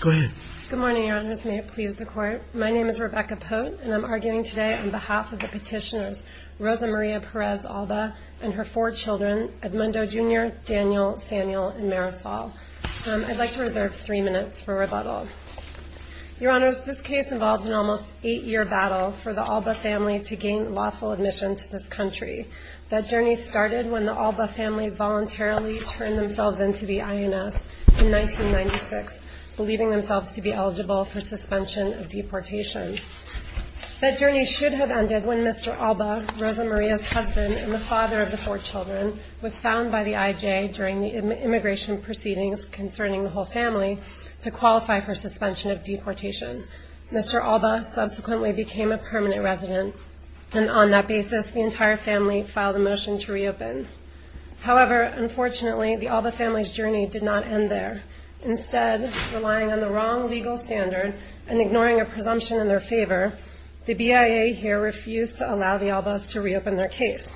Good morning, Your Honors. May it please the Court. My name is Rebecca Pote, and I'm arguing today on behalf of the petitioners Rosa Maria Perez Alba and her four children, Edmundo Jr., Daniel, Samuel, and Marisol. I'd like to reserve three minutes for rebuttal. Your Honors, this case involves an almost eight-year battle for the Alba family to gain lawful admission to this country. That journey started when the Alba family voluntarily turned themselves in to the INS in 1996, believing themselves to be eligible for suspension of deportation. That journey should have ended when Mr. Alba, Rosa Maria's husband and the father of the four children, was found by the IJ during the immigration proceedings concerning the whole family to qualify for suspension of deportation. Mr. Alba subsequently became a permanent resident, and on that basis, the entire family filed a motion to reopen. However, unfortunately, the Alba family's journey did not end there. Instead, relying on the wrong legal standard and ignoring a presumption in their favor, the BIA here refused to allow the Albas to reopen their case.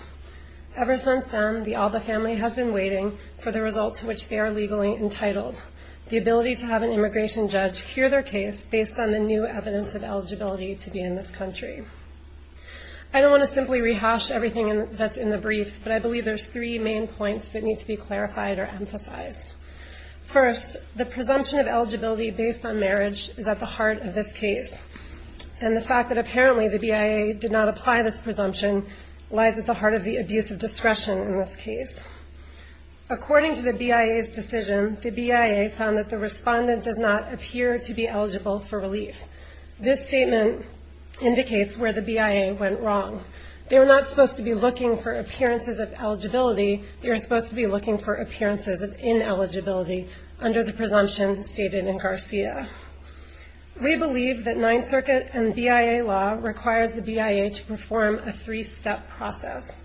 Ever since then, the Alba family has been waiting for the result to which they are legally entitled, the ability to have an immigration judge hear their case based on the new evidence of eligibility to be in this country. I don't want to simply rehash everything that's in the briefs, but I believe there's three main points that need to be clarified or emphasized. First, the presumption of eligibility based on marriage is at the heart of this case, and the fact that apparently the BIA did not apply this presumption lies at the heart of the abuse of discretion in this case. According to the BIA's decision, the BIA found that the respondent does not appear to be eligible for relief. This statement indicates where the BIA went wrong. They were not supposed to be looking for appearances of eligibility. They were supposed to be looking for appearances of ineligibility under the presumption stated in Garcia. We believe that Ninth Circuit and BIA law requires the BIA to perform a three-step process.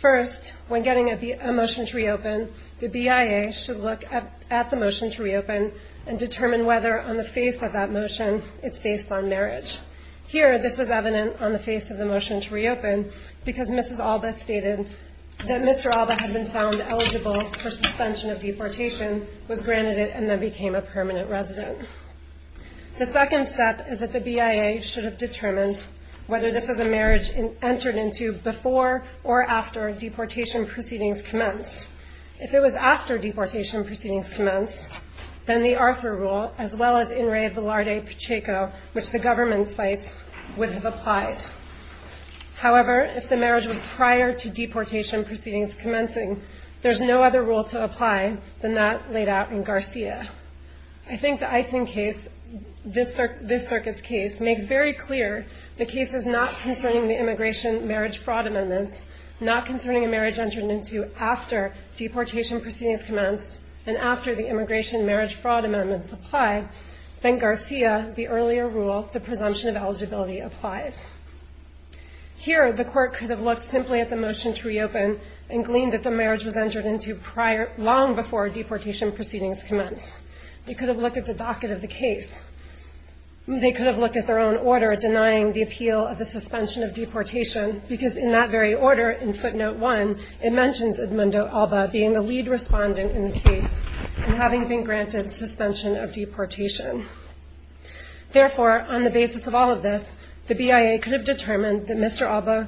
First, when getting a motion to reopen, the BIA should look at the motion to reopen and determine whether on the face of that motion it's based on marriage. Here, this was evident on the face of the motion to reopen because Mrs. Alba stated that Mr. Alba had been found eligible for suspension of deportation, was granted it, and then became a permanent resident. The second step is that the BIA should have determined whether this was a marriage entered into before or after deportation proceedings commenced. If it was after deportation proceedings commenced, then the Arthur rule, as well as in re of the Larde-Pacheco, which the government cites, would have applied. However, if the marriage was prior to deportation proceedings commencing, there's no other rule to apply than that laid out in Garcia. I think the Eisen case, this circuit's case, makes very clear the case is not concerning the immigration marriage fraud amendments, not concerning a marriage entered into after deportation proceedings commenced and after the immigration marriage fraud amendments apply, then Garcia, the earlier rule, the presumption of eligibility, applies. Here, the court could have looked simply at the motion to reopen and gleaned that the marriage was entered into long before deportation proceedings commenced. They could have looked at the docket of the case. They could have looked at their own order denying the appeal of the suspension of deportation because in that very order, in footnote one, it mentions Edmundo Alba being the lead respondent in the case and having been granted suspension of deportation. Therefore, on the basis of all of this, the BIA could have determined that Mr. Alba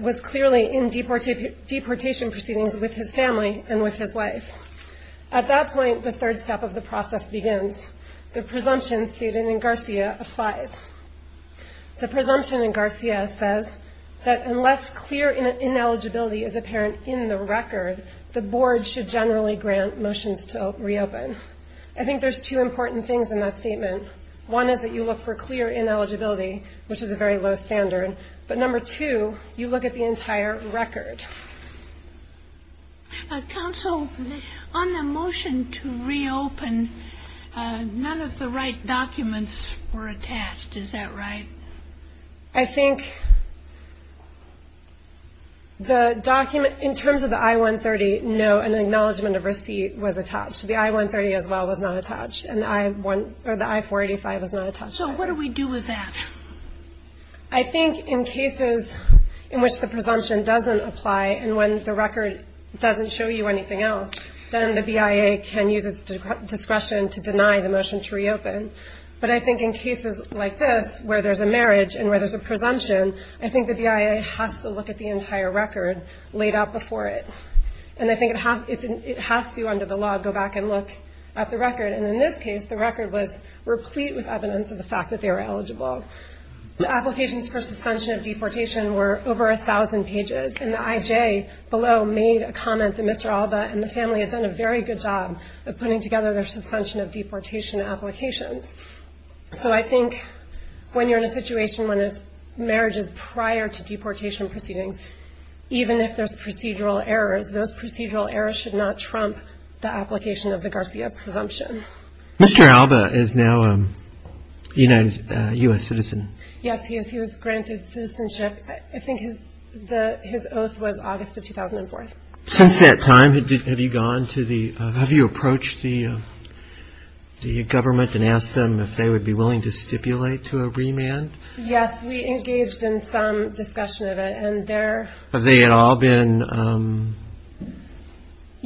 was clearly in deportation proceedings with his family and with his wife. At that point, the third step of the process begins. The presumption stated in Garcia applies. The presumption in Garcia says that unless clear ineligibility is apparent in the record, the board should generally grant motions to reopen. I think there's two important things in that statement. One is that you look for clear ineligibility, which is a very low standard. But number two, you look at the entire record. Counsel, on the motion to reopen, none of the right documents were attached. Is that right? I think the document, in terms of the I-130, no, an acknowledgment of receipt was attached. The I-130 as well was not attached, and the I-485 was not attached. So what do we do with that? I think in cases in which the presumption doesn't apply and when the record doesn't show you anything else, then the BIA can use its discretion to deny the motion to reopen. But I think in cases like this, where there's a marriage and where there's a presumption, I think the BIA has to look at the entire record laid out before it. And I think it has to, under the law, go back and look at the record. And in this case, the record was replete with evidence of the fact that they were eligible. The applications for suspension of deportation were over 1,000 pages, and the IJ below made a comment that Mr. Alba and the family had done a very good job of putting together their suspension of deportation applications. So I think when you're in a situation when it's marriages prior to deportation proceedings, even if there's procedural errors, those procedural errors should not trump the application of the Garcia presumption. Mr. Alba is now a U.S. citizen. Yes, he is. He was granted citizenship. I think his oath was August of 2004. Since that time, have you gone to the – have you approached the government and asked them if they would be willing to stipulate to a remand? Yes. We engaged in some discussion of it, and they're – Have they at all been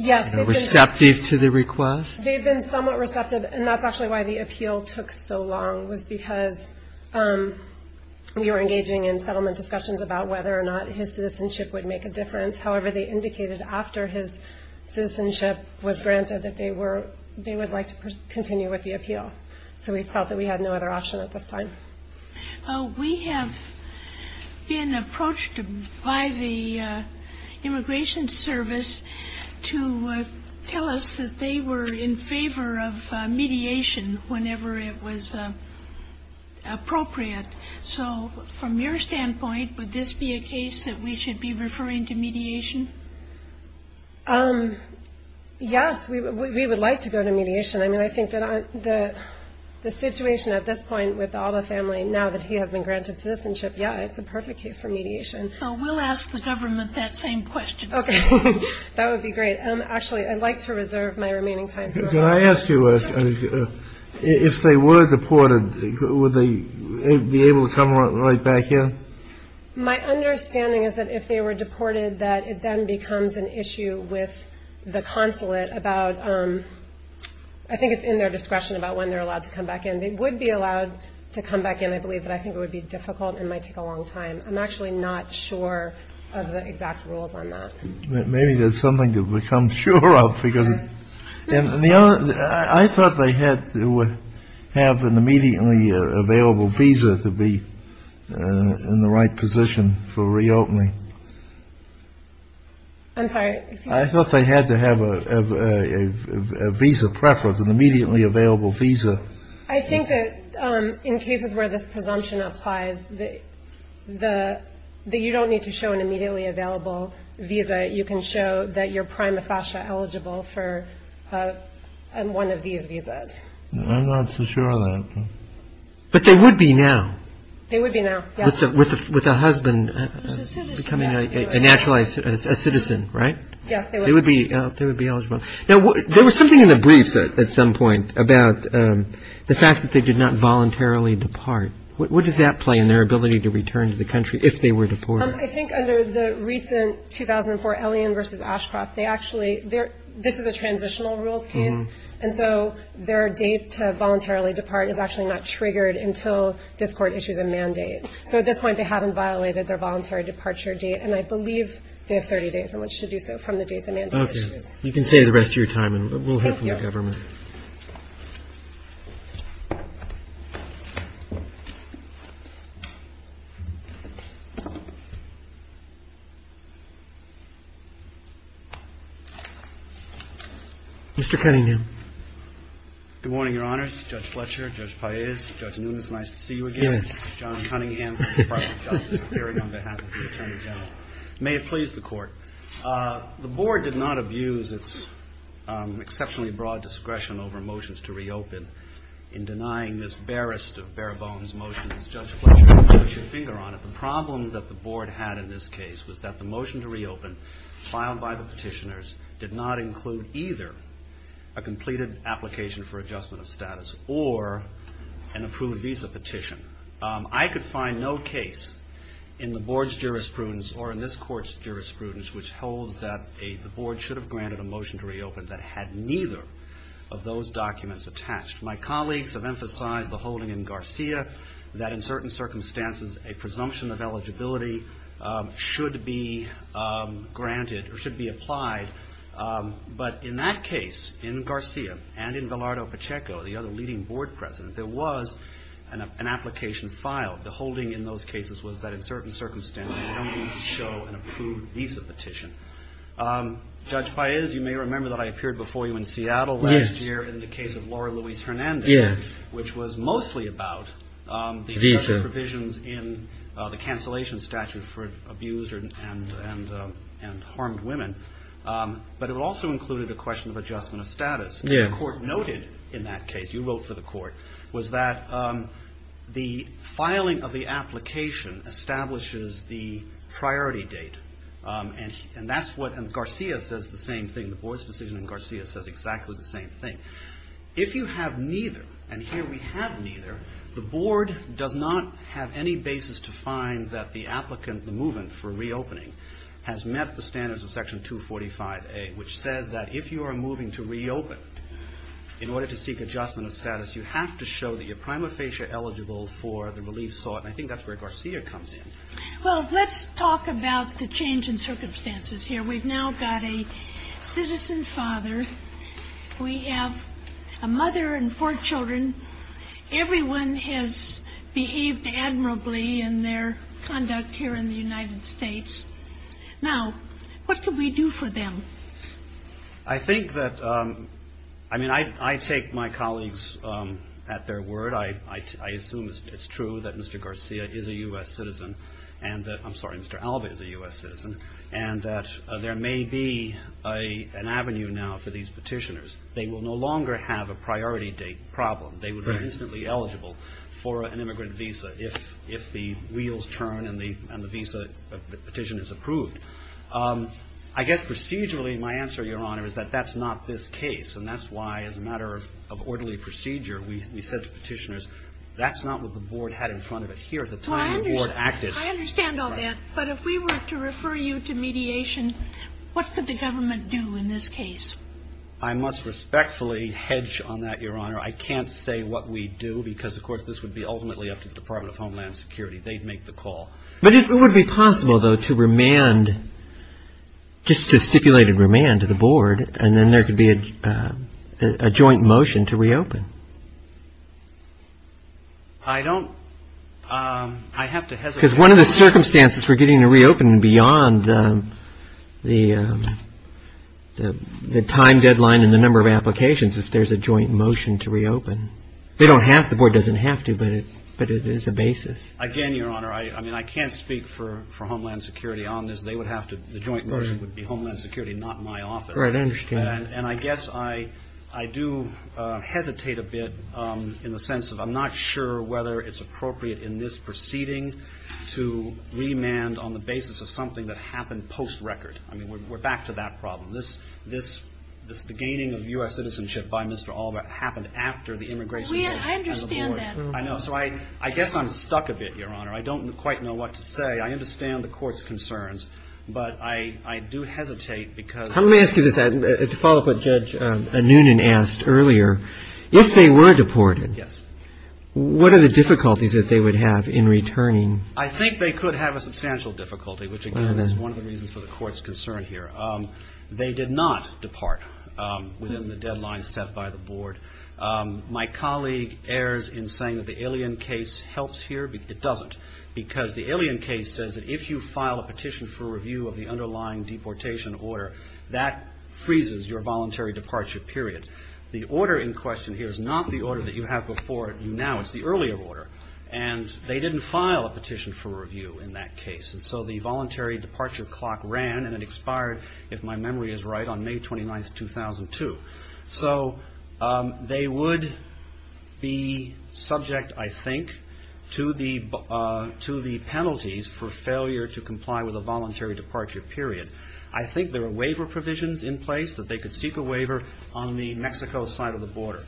receptive to the request? They've been somewhat receptive, and that's actually why the appeal took so long, was because we were engaging in settlement discussions about whether or not his citizenship would make a difference. However, they indicated after his citizenship was granted that they were – they would like to continue with the appeal. So we felt that we had no other option at this time. We have been approached by the Immigration Service to tell us that they were in favor of mediation whenever it was appropriate. So from your standpoint, would this be a case that we should be referring to mediation? Yes, we would like to go to mediation. I mean, I think that the situation at this point with Alda's family, now that he has been granted citizenship, yeah, it's the perfect case for mediation. So we'll ask the government that same question. Okay. That would be great. Actually, I'd like to reserve my remaining time for that. Could I ask you, if they were deported, would they be able to come right back in? My understanding is that if they were deported, that it then becomes an issue with the consulate about – I think it's in their discretion about when they're allowed to come back in. They would be allowed to come back in, I believe, but I think it would be difficult and might take a long time. I'm actually not sure of the exact rules on that. Maybe there's something to become sure of, because – I thought they had to have an immediately available visa to be in the right position for reopening. I'm sorry? I thought they had to have a visa preference, an immediately available visa. I think that in cases where this presumption applies, that you don't need to show an immediately available visa. You can show that you're prima facie eligible for one of these visas. I'm not so sure of that. But they would be now. They would be now, yes. With a husband becoming a naturalized citizen, right? Yes, they would be. They would be eligible. Now, there was something in the briefs at some point about the fact that they did not voluntarily depart. What does that play in their ability to return to the country if they were deported? I think under the recent 2004 Elion versus Ashcroft, they actually – this is a transitional rules case, and so their date to voluntarily depart is actually not triggered until this court issues a mandate. So at this point, they haven't violated their voluntary departure date, and I believe they have 30 days on which to do so from the date the mandate is issued. You can say the rest of your time, and we'll head for the government. Mr. Cunningham. Good morning, Your Honors. Judge Fletcher, Judge Paez, Judge Nunes, nice to see you again. Yes. John Cunningham from the Department of Justice, appearing on behalf of the Attorney General. May it please the Court. The Board did not abuse its exceptionally broad discretion over motions to reopen in denying this barest of bare bones motions. Judge Fletcher, you can put your finger on it. The problem that the Board had in this case was that the motion to reopen filed by the petitioners did not include either a completed application for adjustment of status or an approved visa petition. I could find no case in the Board's jurisprudence or in this Court's jurisprudence which holds that the Board should have granted a motion to reopen that had neither of those documents attached. My colleagues have emphasized the holding in Garcia that in certain circumstances, a presumption of eligibility should be granted or should be applied. But in that case, in Garcia and in Bilardo Pacheco, the other leading Board President, there was an application filed. The holding in those cases was that in certain circumstances, they don't need to show an approved visa petition. Judge Paez, you may remember that I appeared before you in Seattle last year in the case of Laura Luis-Hernandez, which was mostly about the injunction provisions in the cancellation statute for abused and harmed women. But it also included a question of adjustment of status. And the Court noted in that case, you wrote for the Court, was that the filing of the application establishes the priority date. And that's what Garcia says the same thing. The Board's decision in Garcia says exactly the same thing. If you have neither, and here we have neither, the Board does not have any basis to find that the applicant moving for reopening has met the standards of Section 245A, which says that if you are moving to reopen, in order to seek adjustment of status, you have to show that your prima practice is sought. And I think that's where Garcia comes in. Well, let's talk about the change in circumstances here. We've now got a citizen father. We have a mother and four children. Everyone has behaved admirably in their conduct here in the United States. Now, what can we do for them? I think that, I mean, I take my colleagues at their word. I assume it's true that Mr. Garcia is a U.S. citizen, and that, I'm sorry, Mr. Alba is a U.S. citizen, and that there may be an avenue now for these petitioners. They will no longer have a priority date problem. They would be instantly eligible for an immigrant visa if the wheels turn and the visa petition is approved. I guess procedurally, my answer, Your Honor, is that that's not this case. And that's why, as a matter of orderly procedure, we said to petitioners, that's not what the Board had in front of it here at the time the Board acted. Well, I understand all that. But if we were to refer you to mediation, what could the government do in this case? I must respectfully hedge on that, Your Honor. I can't say what we'd do, because, of course, this would be ultimately up to the Department of Homeland Security. They'd make the call. But it would be possible, though, to remand, just to stipulate a remand to the Board, and then there could be a joint motion to reopen. I don't. I have to hesitate. Because one of the circumstances for getting a reopen beyond the time deadline and the number of applications is if there's a joint motion to reopen. They don't have to. The Board doesn't have to, but it is a basis. Again, Your Honor, I mean, I can't speak for Homeland Security on this. They would have to. The joint motion would be Homeland Security, not my office. All right. I understand. And I guess I do hesitate a bit in the sense of I'm not sure whether it's appropriate in this proceeding to remand on the basis of something that happened post-record. I mean, we're back to that problem. This, the gaining of U.S. citizenship by Mr. Oliver happened after the immigration of the Board. I understand that. I know. So I guess I'm stuck a bit, Your Honor. I don't quite know what to say. I understand the Court's concerns, but I do hesitate because Let me ask you this, to follow up what Judge Anoonan asked earlier. If they were deported, what are the difficulties that they would have in returning? I think they could have a substantial difficulty, which, again, is one of the reasons for the Court's concern here. They did not depart within the deadline set by the Board. My colleague errs in saying that the Illion case helps here. It doesn't, because the Illion case says that if you file a petition for review of the underlying deportation order, that freezes your voluntary departure period. The order in question here is not the order that you have before you now. It's the earlier order. And they didn't file a petition for review in that case. And so the voluntary departure clock ran, and it expired, if my memory is right, on May 29th, 2002. So they would be subject, I think, to the penalties for failure to comply with a voluntary departure period. I think there are waiver provisions in place that they could seek a waiver on the Mexico side of the border.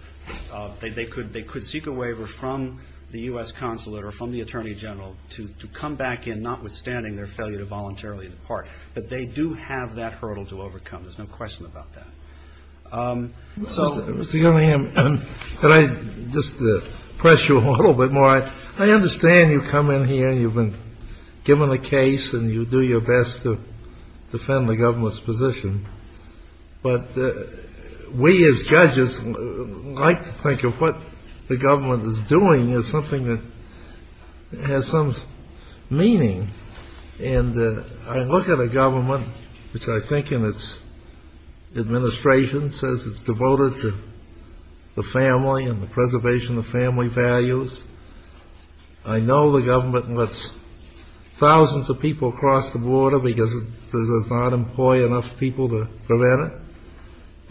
They could seek a waiver from the U.S. Consulate or from the Attorney General to come back in, notwithstanding their failure to voluntarily depart. But they do have that hurdle to overcome. There's no question about that. So Mr. Gillingham, could I just press you a little bit more? I understand you come in here, and you've been given a case, and you do your best to defend the government's position. But we as judges like to think of what the government is doing as something that has some meaning. And I look at a government, which I think in its administration says it's devoted to the family and the preservation of family values. I know the government lets thousands of people cross the border because it does not employ enough people to prevent it.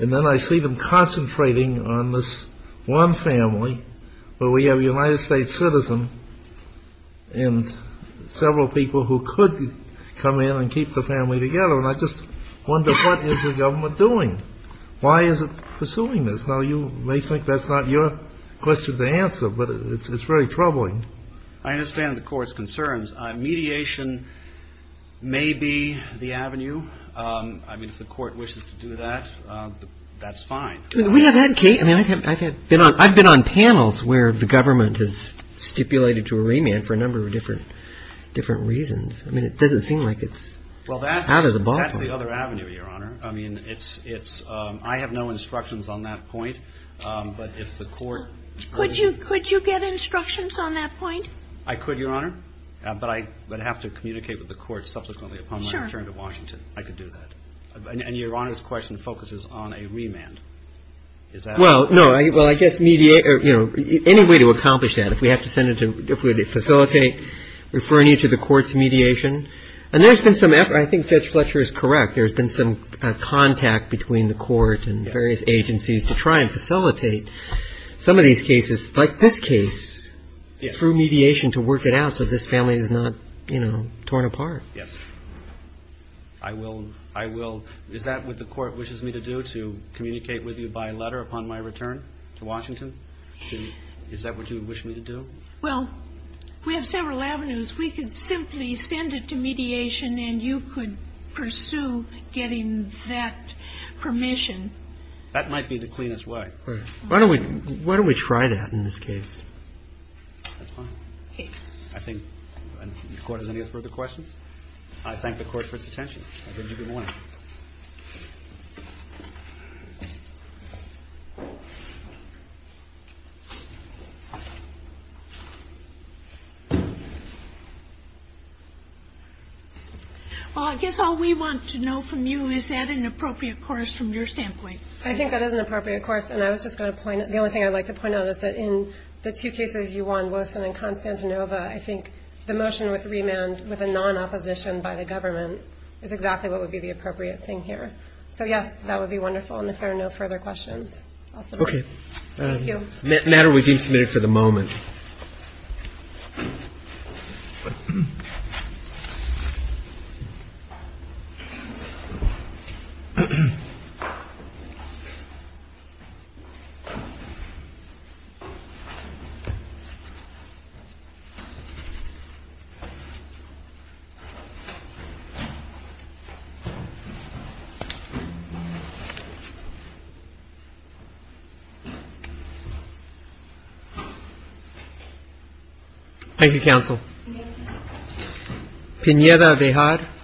And then I see them concentrating on this one family, where we have a United States citizen and several people who could come in and keep the family together. And I just wonder, what is the government doing? Why is it pursuing this? Now, you may think that's not your question to answer, but it's very troubling. I understand the Court's concerns. Mediation may be the avenue. I mean, if the Court wishes to do that, that's fine. We have had cases. I've been on panels where the government has stipulated to a remand for a number of different reasons. I mean, it doesn't seem like it's out of the box. Well, that's the other avenue, Your Honor. I have no instructions on that point. But if the Court could be- Could you get instructions on that point? I could, Your Honor. But I'd have to communicate with the Court subsequently upon my return to Washington. I could do that. And Your Honor's question focuses on a remand. Is that- Well, no. Well, I guess any way to accomplish that, if we have to facilitate, referring you to the Court's mediation. And there's been some effort. I think Judge Fletcher is correct. There's been some contact between the Court and various agencies to try and facilitate some of these cases, like this case, through mediation to work it out so this family is not torn apart. Yes. I will. I will. Is that what the Court wishes me to do, to communicate with you by letter upon my return to Washington? Is that what you would wish me to do? Well, we have several avenues. We could simply send it to mediation, and you could pursue getting that permission. That might be the cleanest way. Why don't we try that in this case? That's fine. Okay. I think the Court has any further questions? I thank the Court for its attention. I bid you good morning. Well, I guess all we want to know from you is, is that an appropriate course from your standpoint? I think that is an appropriate course. And I was just going to point out the only thing I'd like to point out is that in the two cases you won, Wilson and Constantinova, I think the motion with remand with a non-opposition by the government is exactly what would be the appropriate thing here. So, yes, that would be wonderful. And if there are no further questions, I'll stop. Okay. Thank you. Matter will be submitted for the moment. Thank you.